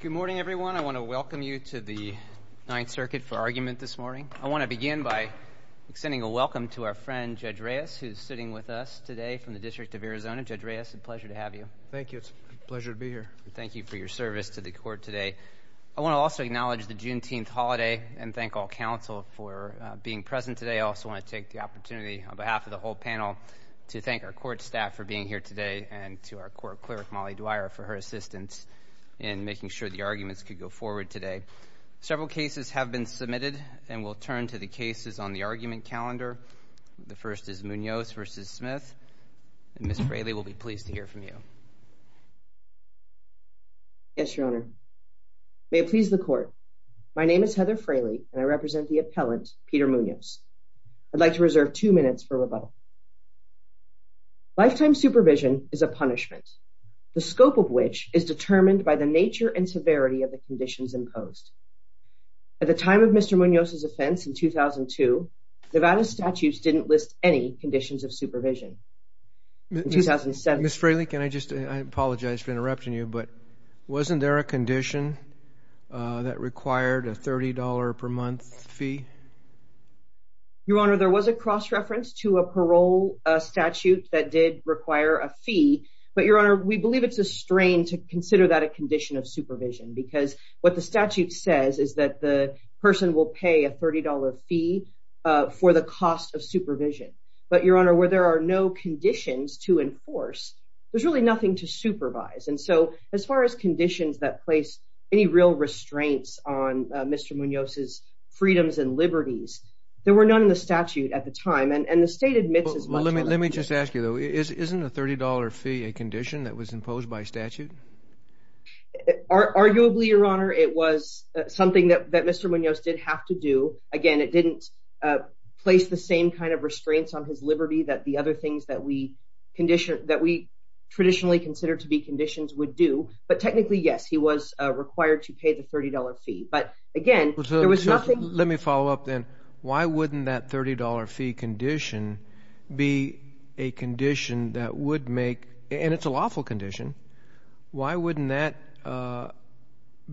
Good morning, everyone. I want to welcome you to the Ninth Circuit for argument this morning. I want to begin by sending a welcome to our friend, Judge Reyes, who's sitting with us today from the District of Arizona. Judge Reyes, it's a pleasure to have you. Thank you. It's a pleasure to be here. Thank you for your service to the court today. I want to also acknowledge the Juneteenth holiday and thank all counsel for being present today. I also want to take the opportunity on behalf of the whole panel to thank our court staff for being here today and to our assistance in making sure the arguments could go forward today. Several cases have been submitted and we'll turn to the cases on the argument calendar. The first is Munoz v. Smith. Ms. Fraley will be pleased to hear from you. Yes, Your Honor. May it please the court. My name is Heather Fraley and I represent the appellant, Peter Munoz. I'd like to reserve two minutes for rebuttal. Lifetime supervision is a punishment. The scope of which is determined by the nature and severity of the conditions imposed. At the time of Mr. Munoz's offense in 2002, Nevada's statutes didn't list any conditions of supervision. In 2007... Ms. Fraley, can I just... I apologize for interrupting you, but wasn't there a condition that required a $30 per month fee? Your Honor, there was a cross-reference to a parole statute that did require a fee, but Your Honor, we believe it's a strain to consider that a condition of supervision because what the statute says is that the person will pay a $30 fee for the cost of supervision. But Your Honor, where there are no conditions to enforce, there's really nothing to supervise. And so, as far as conditions that place any real restraints on Mr. Munoz's freedoms and liberties, there were none in the statute at the time. And the state admits as much... Well, let me just ask you, though. Isn't a $30 fee a condition that was imposed by statute? Arguably, Your Honor, it was something that Mr. Munoz did have to do. Again, it didn't place the same kind of restraints on his liberty that the other things that we traditionally consider to be conditions would do. But technically, yes, he was required to pay the $30 fee. But again, there was nothing... Let me follow up, then. Why wouldn't that $30 fee condition be a condition that would make... And it's a lawful condition. Why wouldn't that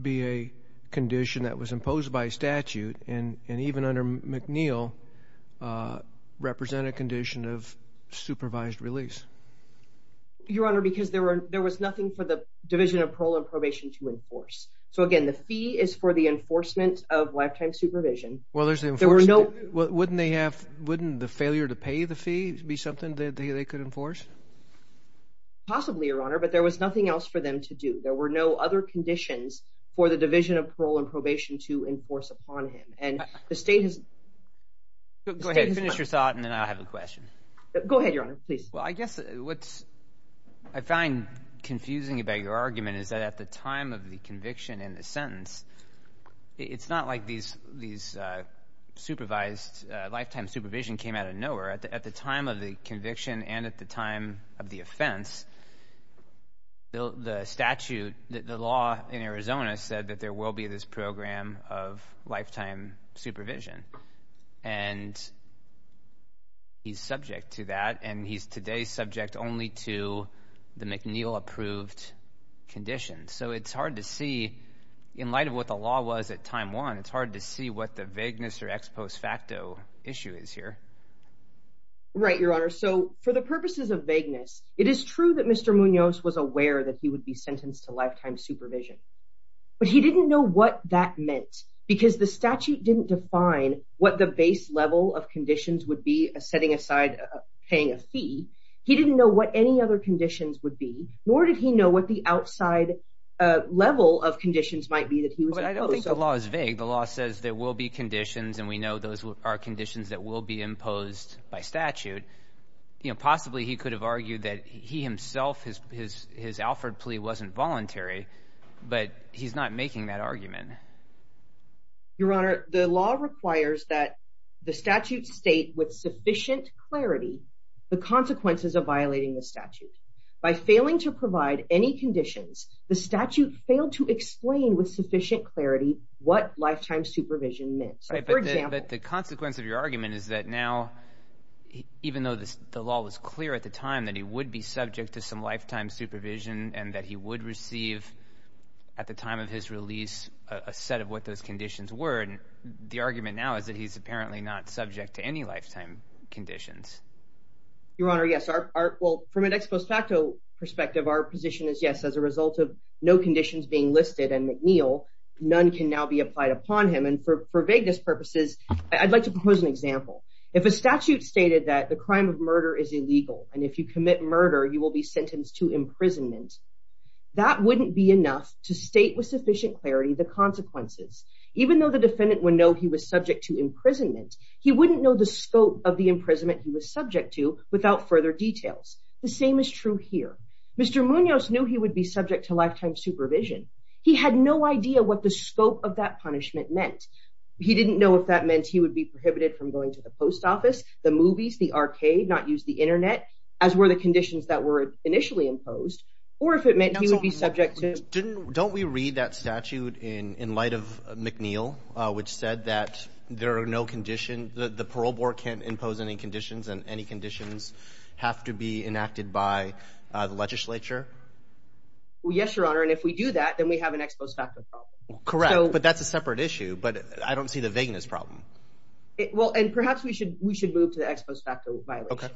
be a condition that was imposed by statute and even under McNeil represent a condition of supervised release? Your Honor, because there was nothing for the Division of Parole and Probation to enforce. So again, the fee is for the enforcement of lifetime supervision. Well, there's the enforcement. Wouldn't the failure to pay the fee be something that they could enforce? Possibly, Your Honor, but there was nothing else for them to do. There were no other conditions for the Division of Parole and Probation to enforce upon him. And the state has... Go ahead. Finish your thought, and then I'll have a question. Go ahead, Your Honor. Please. Well, I guess what I find confusing about your argument is that at the time of the conviction and the sentence, it's not like these supervised lifetime supervision came out of nowhere. At the time of the conviction and at the time of the offense, the statute, the law in Arizona said that there will be this program of lifetime supervision. And he's subject to that, and he's today subject only to the McNeil-approved conditions. So it's hard to see, in light of what the law was at time one, it's hard to see what the vagueness or ex post facto issue is here. Right, Your Honor. So for the purposes of vagueness, it is true that Mr. Munoz was aware that he would be sentenced to lifetime supervision. But he didn't know what that meant, because the statute didn't define what the base level of conditions would be, setting aside paying a fee. He didn't know what any other conditions would be, nor did he know what the outside level of conditions might be that he was opposed to. But I don't think the law is vague. The law says there will be conditions, and we know those are conditions that will be imposed by statute. Possibly he could have argued that he himself, his Alford plea wasn't voluntary, but he's not making that argument. Your Honor, the law requires that the statute state with sufficient clarity the consequences of violating the statute. By failing to provide any conditions, the statute failed to explain with sufficient clarity what lifetime supervision meant. Right, but the consequence of your argument is that now, even though the law was clear at the time, that he would be subject to some lifetime supervision, and that he would receive, at the time of his release, a set of what those conditions were, and the argument now is that he's apparently not subject to any lifetime conditions. Your Honor, yes. Well, from an ex post facto perspective, our position is yes, as a result of no conditions being listed and McNeil, none can now be applied upon him. And for vagueness purposes, I'd like to propose an example. If a statute stated that the crime of murder is illegal, and if you commit murder, you will be sentenced to imprisonment, that wouldn't be enough to state with sufficient clarity the consequences. Even though the defendant would know he was subject to imprisonment, he wouldn't know the scope of the imprisonment he was subject to without further details. The same is true here. Mr. Munoz knew he would be subject to lifetime supervision. He had no idea what the scope of that punishment meant. He didn't know if that meant he would be prohibited from going to the post office, the movies, the arcade, not use the internet, as were the conditions that were initially imposed, or if it meant he would be subject to... Don't we read that statute in light of McNeil, which said that there are no conditions, the parole board can't impose any conditions, and any conditions have to be enacted by the legislature? Yes, Your Honor, and if we do that, then we have an ex post facto problem. Correct, but that's a separate issue, but I don't see the vagueness problem. Well, and perhaps we should move to the ex post facto violation.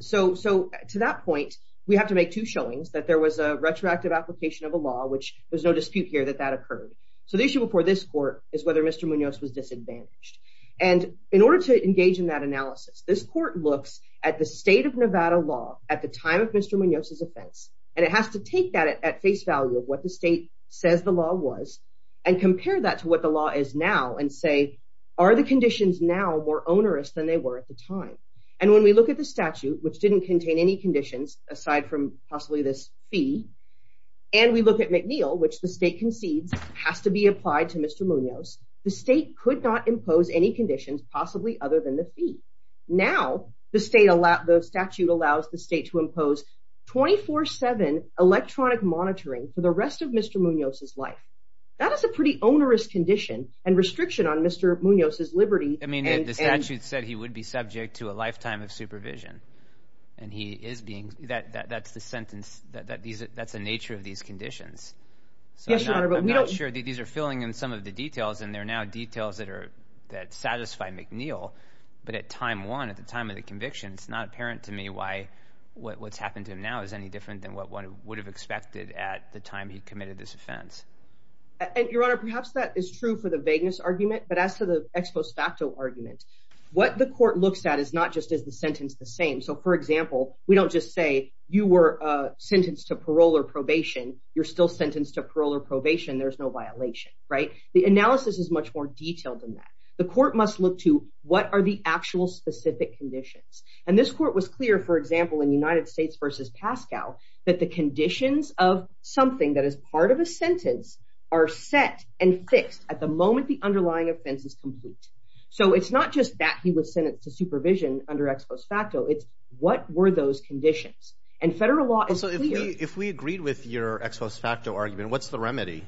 So to that point, we have to make two showings, that there was a retroactive application of a law, which there's no dispute here that that occurred. So the issue before this court is whether Mr. Munoz was disadvantaged. And in order to engage in that analysis, this court looks at the state of Nevada law at the time of Mr. Munoz's offense, and it has to take that at face value of what the state says the law was, and compare that to what the law is now and say, are the conditions now more onerous than they were at the time. And when we look at the statute, which didn't contain any conditions, aside from possibly this fee, and we look at McNeil, which the state concedes has to be applied to Mr. Munoz, the state could not impose any conditions possibly other than the fee. Now, the statute allows the state to impose 24-7 electronic monitoring for the rest of Mr. Munoz's life. That is a pretty onerous condition and restriction on Mr. Munoz's liberty. I mean, the statute said he would be subject to a lifetime of supervision. And he is being that that's the sentence that these that's the nature of these conditions. So I'm not sure these are filling in some of the details, and they're now details that are that satisfy McNeil. But at time one, at the time of the conviction, it's not apparent to me why what's happened to him now is any different than what one would have expected at the time he committed this offense. And Your Honor, perhaps that is true for the vagueness argument. But as the ex post facto argument, what the court looks at is not just as the sentence the same. So for example, we don't just say you were sentenced to parole or probation, you're still sentenced to parole or probation, there's no violation, right? The analysis is much more detailed than that. The court must look to what are the actual specific conditions. And this court was clear, for example, in United States versus Pascal, that the conditions of something that is part of a So it's not just that he was sentenced to supervision under ex post facto, it's what were those conditions, and federal law. So if we agreed with your ex post facto argument, what's the remedy?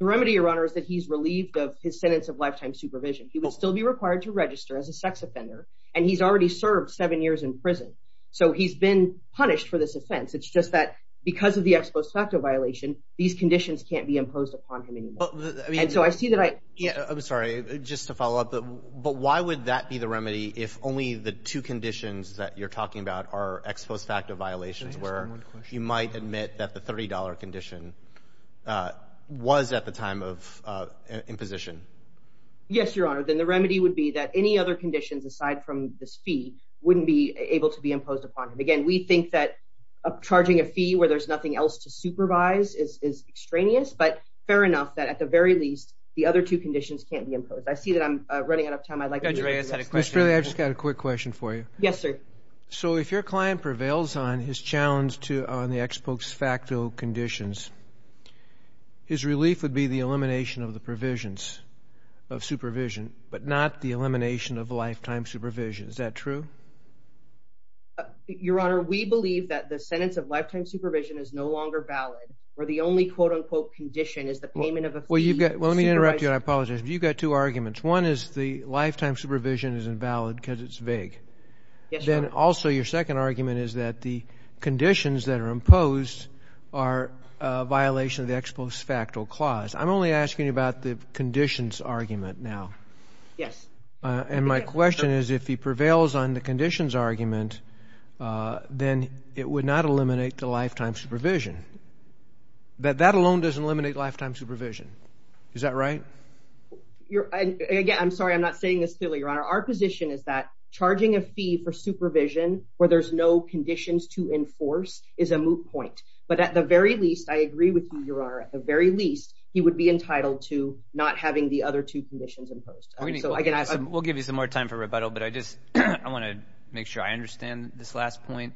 The remedy, Your Honor, is that he's relieved of his sentence of lifetime supervision, he will still be required to register as a sex offender. And he's already served seven years in prison. So he's been punished for this offense. It's just that because of the ex post facto violation, these conditions can't be imposed upon him. And so I see that I Yeah, I'm sorry, just to follow up. But why would that be the remedy? If only the two conditions that you're talking about are ex post facto violations where you might admit that the $30 condition was at the time of imposition? Yes, Your Honor, then the remedy would be that any other conditions aside from this fee wouldn't be able to be imposed upon him. Again, we think that charging a fee where there's nothing else to supervise is extraneous, but fair enough that at the very least, the other two conditions can't be imposed. I see that I'm running out of time. Ms. Fraley, I just got a quick question for you. Yes, sir. So if your client prevails on his challenge to on the ex post facto conditions, his relief would be the elimination of the provisions of supervision, but not the elimination of lifetime supervision. Is that true? Your Honor, we believe that the sentence of lifetime supervision is no longer valid, or the only quote-unquote condition is the payment of a fee. Well, let me interrupt you. I apologize. You've got two arguments. One is the lifetime supervision is invalid because it's vague. Yes, Your Honor. Then also your second argument is that the conditions that are imposed are a violation of the ex post facto clause. I'm only asking about the conditions argument now. Yes. And my question is if he prevails on the conditions argument, then it would not eliminate the lifetime supervision. But that alone doesn't eliminate lifetime supervision. Is that right? Again, I'm sorry. I'm not saying this clearly, Your Honor. Our position is that charging a fee for supervision where there's no conditions to enforce is a moot point. But at the very least, I agree with you, Your Honor. At the very least, he would be entitled to not having the other two conditions imposed. We'll give you some more time for rebuttal, but I just want to make sure I understand this last point.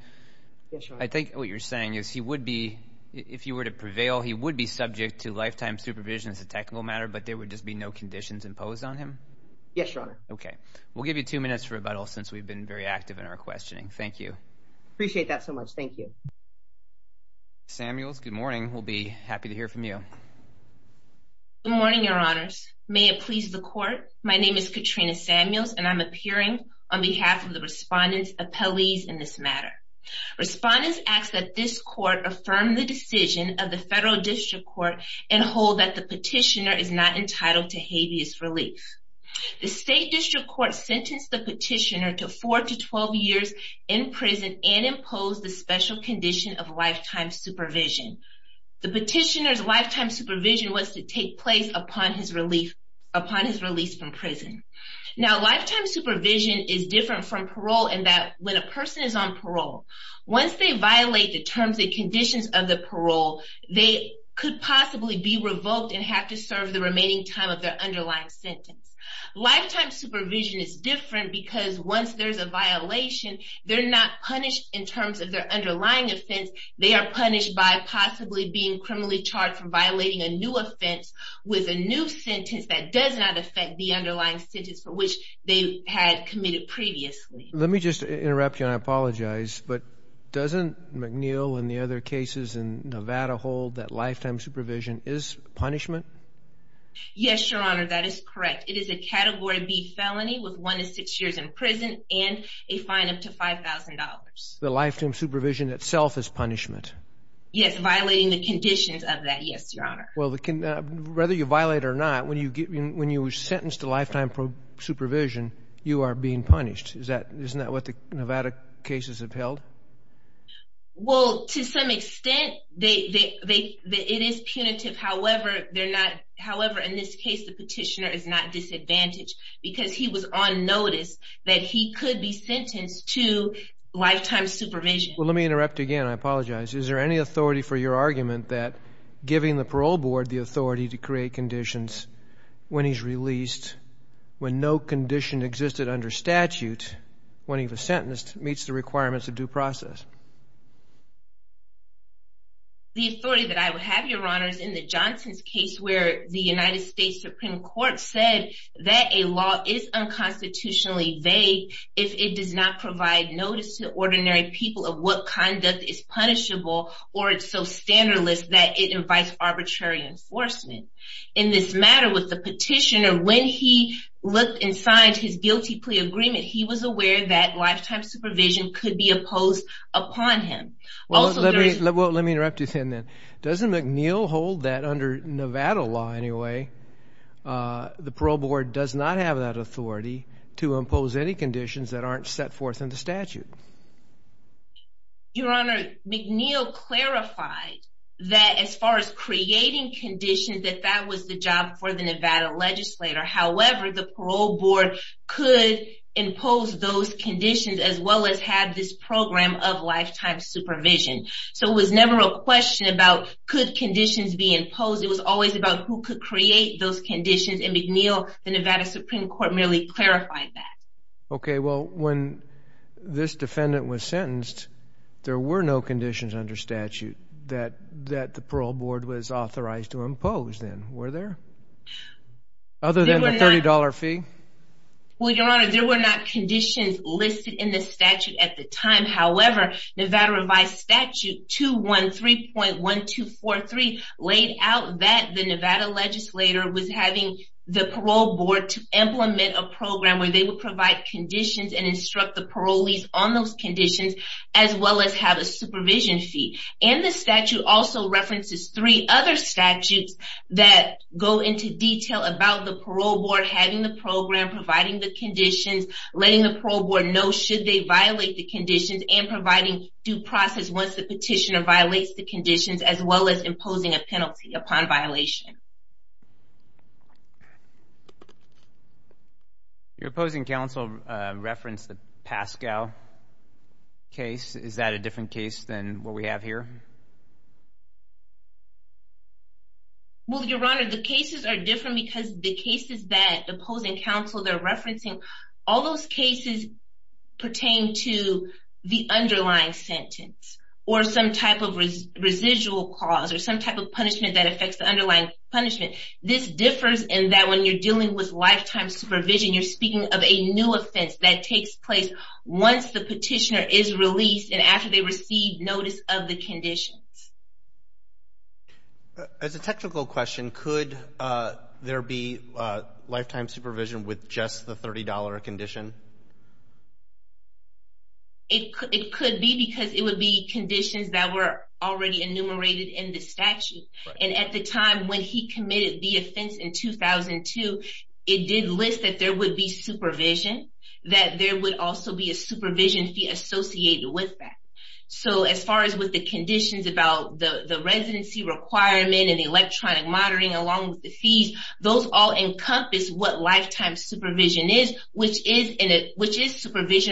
Yes, Your Honor. I think what you're saying is if you were to prevail, he would be subject to lifetime supervision as a technical matter, but there would just be no conditions imposed on him? Yes, Your Honor. Okay. We'll give you two minutes for rebuttal since we've been very active in our questioning. Thank you. Appreciate that so much. Thank you. Samuels, good morning. We'll be happy to hear from you. Good morning, Your Honors. May it please the court. My name is Katrina Samuels and I'm appearing on behalf of the respondent's appellees in this matter. Respondents ask that this court affirm the decision of the Federal District Court and hold that the petitioner is not entitled to habeas relief. The State District Court sentenced the petitioner to four to 12 years in prison and imposed the special condition of lifetime supervision. The petitioner's lifetime upon his release from prison. Now, lifetime supervision is different from parole in that when a person is on parole, once they violate the terms and conditions of the parole, they could possibly be revoked and have to serve the remaining time of their underlying sentence. Lifetime supervision is different because once there's a violation, they're not punished in terms of their underlying offense. They are punished by possibly being criminally charged for violating a new offense with a new sentence that does not affect the underlying sentence for which they had committed previously. Let me just interrupt you and I apologize, but doesn't McNeil and the other cases in Nevada hold that lifetime supervision is punishment? Yes, Your Honor, that is correct. It is a category B felony with one to six years in prison and a fine up to Well, whether you violate or not, when you were sentenced to lifetime supervision, you are being punished. Isn't that what the Nevada cases have held? Well, to some extent, it is punitive. However, in this case, the petitioner is not disadvantaged because he was on notice that he could be sentenced to lifetime supervision. Well, let me interrupt again. I apologize. Is there any authority for your board to create conditions when he's released when no condition existed under statute when he was sentenced meets the requirements of due process? The authority that I would have, Your Honor, is in the Johnson's case where the United States Supreme Court said that a law is unconstitutionally vague if it does not provide notice to ordinary people of what conduct is punishable or it's so standardless that it arbitrary enforcement. In this matter with the petitioner, when he looked inside his guilty plea agreement, he was aware that lifetime supervision could be opposed upon him. Let me interrupt you then. Doesn't McNeil hold that under Nevada law anyway? The parole board does not have that authority to impose any conditions that aren't set forth in the statute. Your Honor, McNeil clarified that as far as creating conditions, that that was the job for the Nevada legislator. However, the parole board could impose those conditions as well as have this program of lifetime supervision. So it was never a question about could conditions be imposed. It was always about who could create those conditions. And McNeil, the Nevada Supreme Court merely clarified that. Okay, well, when this defendant was sentenced, there were no conditions under statute that the parole board was authorized to impose then, were there? Other than the $30 fee? Well, Your Honor, there were not conditions listed in the statute at the time. However, Nevada revised statute 213.1243 laid out that the Nevada legislator was having the parole board to implement a program where they would provide conditions and instruct the parolees on those conditions as well as have a supervision fee. And the statute also references three other statutes that go into detail about the parole board having the program, providing the conditions, letting the parole board know should they violate the conditions, and providing due process once the petitioner violates the conditions as well as imposing a penalty upon violation. Your opposing counsel referenced the Pascal case. Is that a different case than what we have here? Well, Your Honor, the cases are different because the cases that opposing counsel they're referencing, all those cases pertain to the underlying sentence or some type of residual cause or some type of punishment that affects the underlying punishment. This differs in that when you're dealing with lifetime supervision, you're speaking of a new offense that takes place once the petitioner is released and after they receive notice of the conditions. As a technical question, could there be lifetime supervision with just the $30 condition? It could be because it would be conditions that were already enumerated in the statute. And at the time when he committed the offense in 2002, it did list that there would be supervision, that there would also be a supervision fee associated with that. So as far as with the conditions about the residency requirement and the electronic monitoring along with the fees, those all encompass what is supervision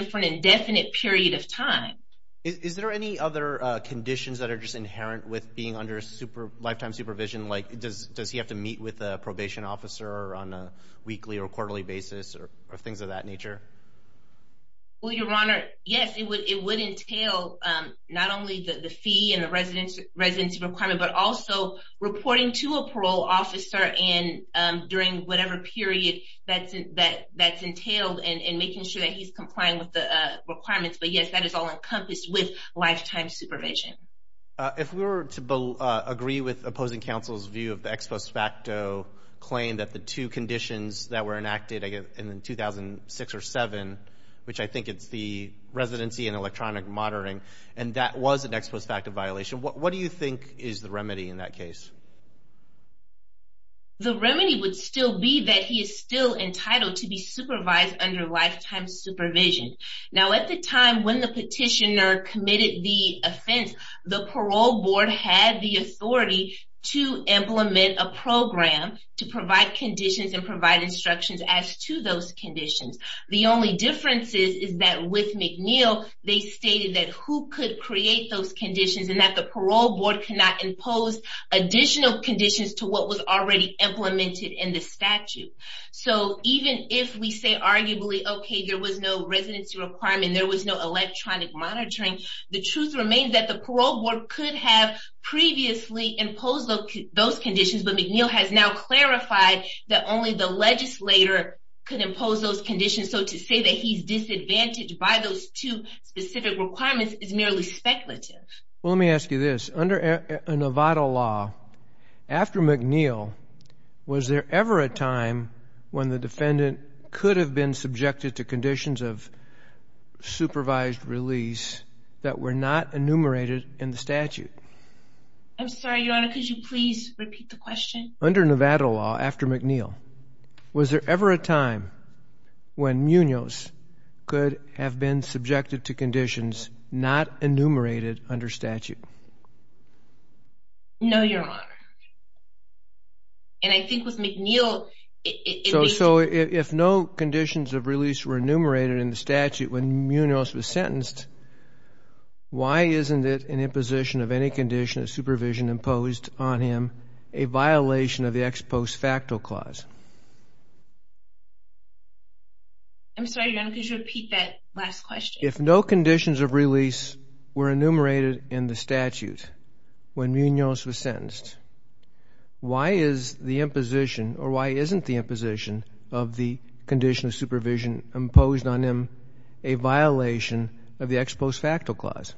for an indefinite period of time. Is there any other conditions that are just inherent with being under lifetime supervision? Like, does he have to meet with a probation officer on a weekly or quarterly basis or things of that nature? Well, Your Honor, yes, it would entail not only the fee and the residency requirement, but also reporting to a parole officer during whatever period that's entailed and making sure that he's complying with the requirements. But yes, that is all encompassed with lifetime supervision. If we were to agree with opposing counsel's view of the ex post facto claim that the two conditions that were enacted in 2006 or 2007, which I think it's the residency and electronic monitoring, and that was an ex post facto violation, what do you think is the remedy in that case? The remedy would still be that he is still entitled to be supervised under lifetime supervision. Now, at the time when the petitioner committed the offense, the parole board had the authority to implement a program to provide conditions and provide instructions as to those conditions. The only difference is that with McNeil, they stated that who could create those conditions and that the parole board cannot impose additional conditions to what was already implemented in the statute. So even if we say arguably, okay, there was no residency requirement, there was no electronic monitoring, the truth remains that the parole board could have previously imposed those conditions. But McNeil has now clarified that only the legislator could impose those conditions. So to say that he's disadvantaged by those two specific requirements is merely speculative. Well, let me ask you this. Under a Nevada law, after McNeil, was there ever a time when the defendant could have been subjected to conditions of supervised release that were not enumerated in the statute? I'm sorry, Your Honor, could you please repeat the question? Under Nevada law, after McNeil, was there ever a time when Munoz could have been subjected to conditions not enumerated under statute? No, Your Honor. And I think with McNeil... So if no conditions of release were enumerated in the statute when Munoz was sentenced, why isn't it an imposition of any condition of supervision imposed on him a violation of the ex post facto clause? I'm sorry, Your Honor, could you repeat that last question? If no conditions of release were enumerated in the statute when Munoz was sentenced, why is the imposition or why isn't the imposition of the condition of supervision imposed on him a violation of the ex post facto clause?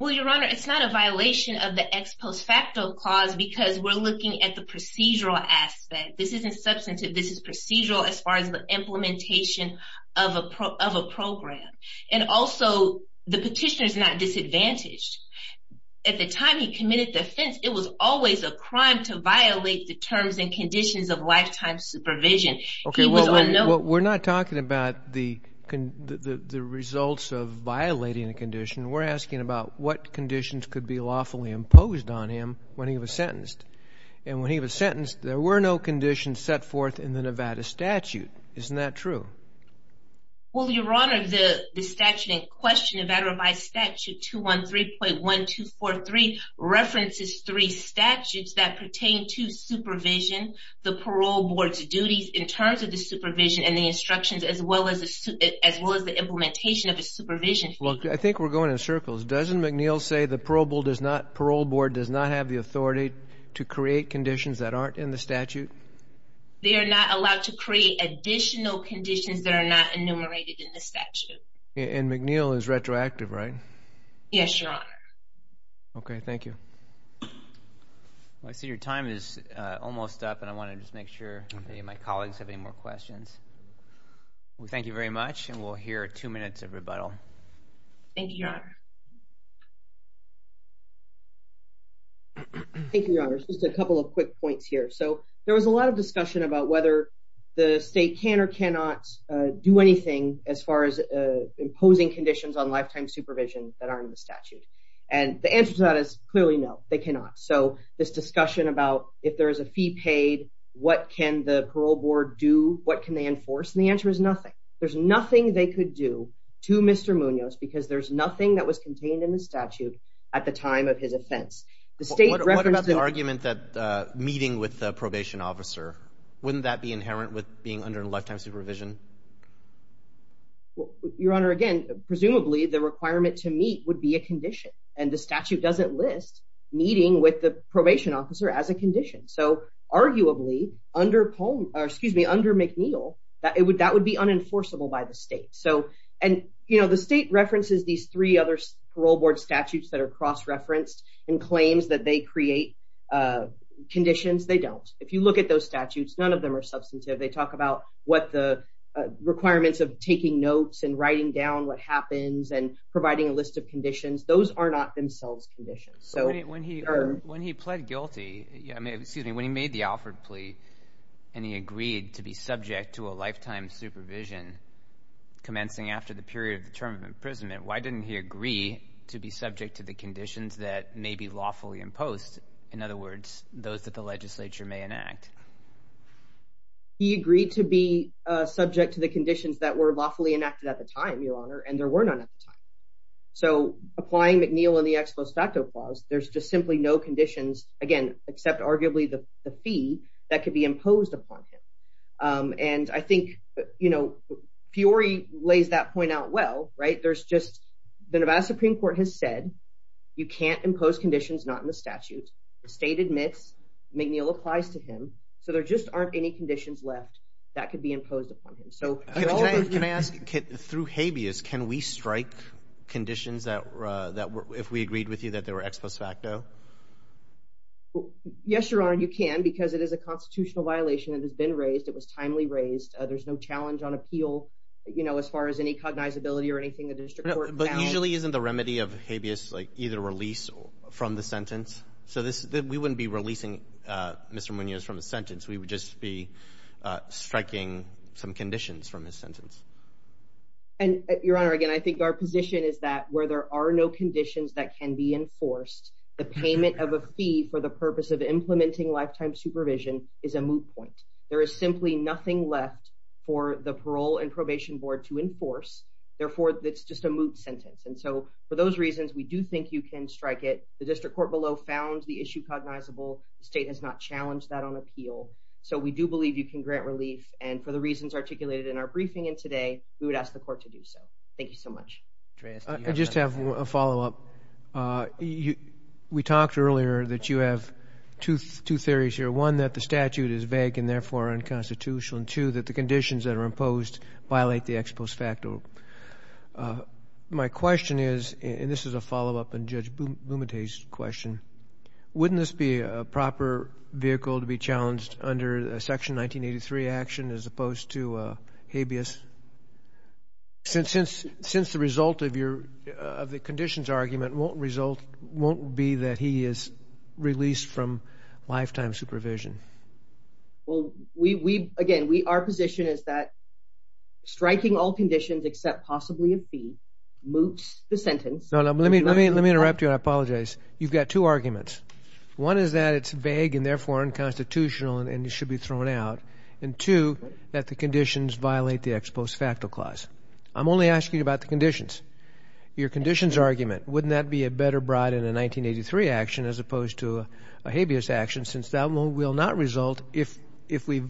Well, Your Honor, it's not a violation of the ex post facto clause because we're looking at the procedural aspect. This isn't substantive, this is procedural as far as the implementation of a program. And also, the petitioner is not disadvantaged. At the time he committed the offense, it was always a crime to violate the terms and conditions of lifetime supervision. Okay, well, we're not talking about the results of imposed on him when he was sentenced. And when he was sentenced, there were no conditions set forth in the Nevada statute. Isn't that true? Well, Your Honor, the statute in question, Nevada Revised Statute 213.1243, references three statutes that pertain to supervision, the parole board's duties in terms of the supervision and the instructions as well as the implementation of the supervision. I think we're going in circles. Doesn't McNeil say the parole board does not have the authority to create conditions that aren't in the statute? They are not allowed to create additional conditions that are not enumerated in the statute. And McNeil is retroactive, right? Yes, Your Honor. Okay, thank you. I see your time is almost up and I want to just make sure that my colleagues have any more questions. Thank you very much and we'll hear two minutes of questions. Thank you, Your Honor. Thank you, Your Honor. Just a couple of quick points here. So there was a lot of discussion about whether the state can or cannot do anything as far as imposing conditions on lifetime supervision that aren't in the statute. And the answer to that is clearly no, they cannot. So this discussion about if there is a fee paid, what can the parole board do? What can they enforce? The answer is nothing. There's nothing they could do to Mr. Munoz because there's nothing that was contained in the statute at the time of his offense. What about the argument that meeting with the probation officer, wouldn't that be inherent with being under lifetime supervision? Your Honor, again, presumably the requirement to meet would be a condition and the statute doesn't list meeting with the probation officer as a condition. So arguably under McNeil, that would be unenforceable by the state. And the state references these three other parole board statutes that are cross-referenced and claims that they create conditions. They don't. If you look at those statutes, none of them are substantive. They talk about what the requirements of taking notes and writing down what happens and providing a list of conditions. Those are not themselves conditions. When he pled guilty, excuse me, he made the Alford plea and he agreed to be subject to a lifetime supervision commencing after the period of the term of imprisonment, why didn't he agree to be subject to the conditions that may be lawfully imposed? In other words, those that the legislature may enact. He agreed to be subject to the conditions that were lawfully enacted at the time, Your Honor, and there were none at the time. So applying McNeil and the fee, that could be imposed upon him. And I think, you know, Peori lays that point out well, right? There's just, the Nevada Supreme Court has said you can't impose conditions not in the statute. The state admits McNeil applies to him. So there just aren't any conditions left that could be imposed upon him. So- Can I ask, through habeas, can we strike conditions that were, if we agreed with you that they were ex post facto? Well, yes, Your Honor, you can, because it is a constitutional violation that has been raised. It was timely raised. There's no challenge on appeal, you know, as far as any cognizability or anything that the district court found. But usually isn't the remedy of habeas like either release from the sentence? So this, we wouldn't be releasing Mr. Munoz from the sentence. We would just be striking some conditions from his sentence. And Your Honor, again, I think our position is that where there are no conditions that can be enforced, the payment of a fee for the purpose of implementing lifetime supervision is a moot point. There is simply nothing left for the parole and probation board to enforce. Therefore, it's just a moot sentence. And so for those reasons, we do think you can strike it. The district court below found the issue cognizable. The state has not challenged that on appeal. So we do believe you can grant relief. And for the reasons articulated in our briefing and today, we would ask the court to do so. Thank you so much. I just have a follow-up. We talked earlier that you have two theories here. One, that the statute is vague and therefore unconstitutional. And two, that the conditions that are imposed violate the ex post facto. My question is, and this is a follow-up on Judge Bumaday's question, wouldn't this be a proper vehicle to be challenged under a Section 1983 action as opposed to habeas? Since the result of the conditions argument won't result, won't be that he is released from lifetime supervision. Well, again, our position is that striking all conditions except possibly a fee moots the sentence. No, no. Let me interrupt you. I apologize. You've got two arguments. One is that it's vague and therefore unconstitutional and it should be thrown out. And two, that the clause. I'm only asking about the conditions. Your conditions argument, wouldn't that be a better bride in a 1983 action as opposed to a habeas action since that will not result if we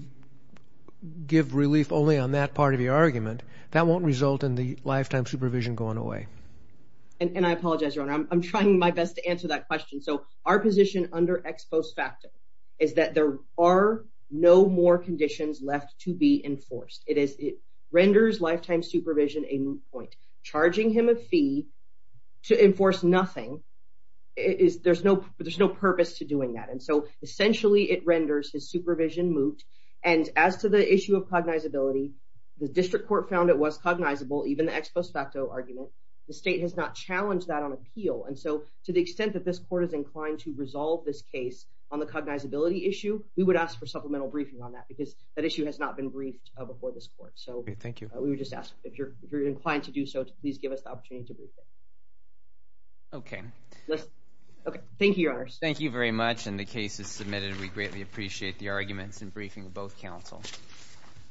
give relief only on that part of the argument. That won't result in the lifetime supervision going away. And I apologize, Your Honor. I'm trying my best to answer that question. So our position under ex post facto is that there are no more conditions left to be enforced. It is lifetime supervision a moot point. Charging him a fee to enforce nothing, there's no purpose to doing that. And so essentially it renders his supervision moot. And as to the issue of cognizability, the district court found it was cognizable, even the ex post facto argument. The state has not challenged that on appeal. And so to the extent that this court is inclined to resolve this case on the cognizability issue, we would ask for supplemental briefing on that because that issue has not been briefed before this court. So we would just ask if you're inclined to do so, please give us the opportunity to brief you. Okay. Okay. Thank you, Your Honor. Thank you very much. And the case is submitted. We greatly appreciate the arguments and briefing of both counsel.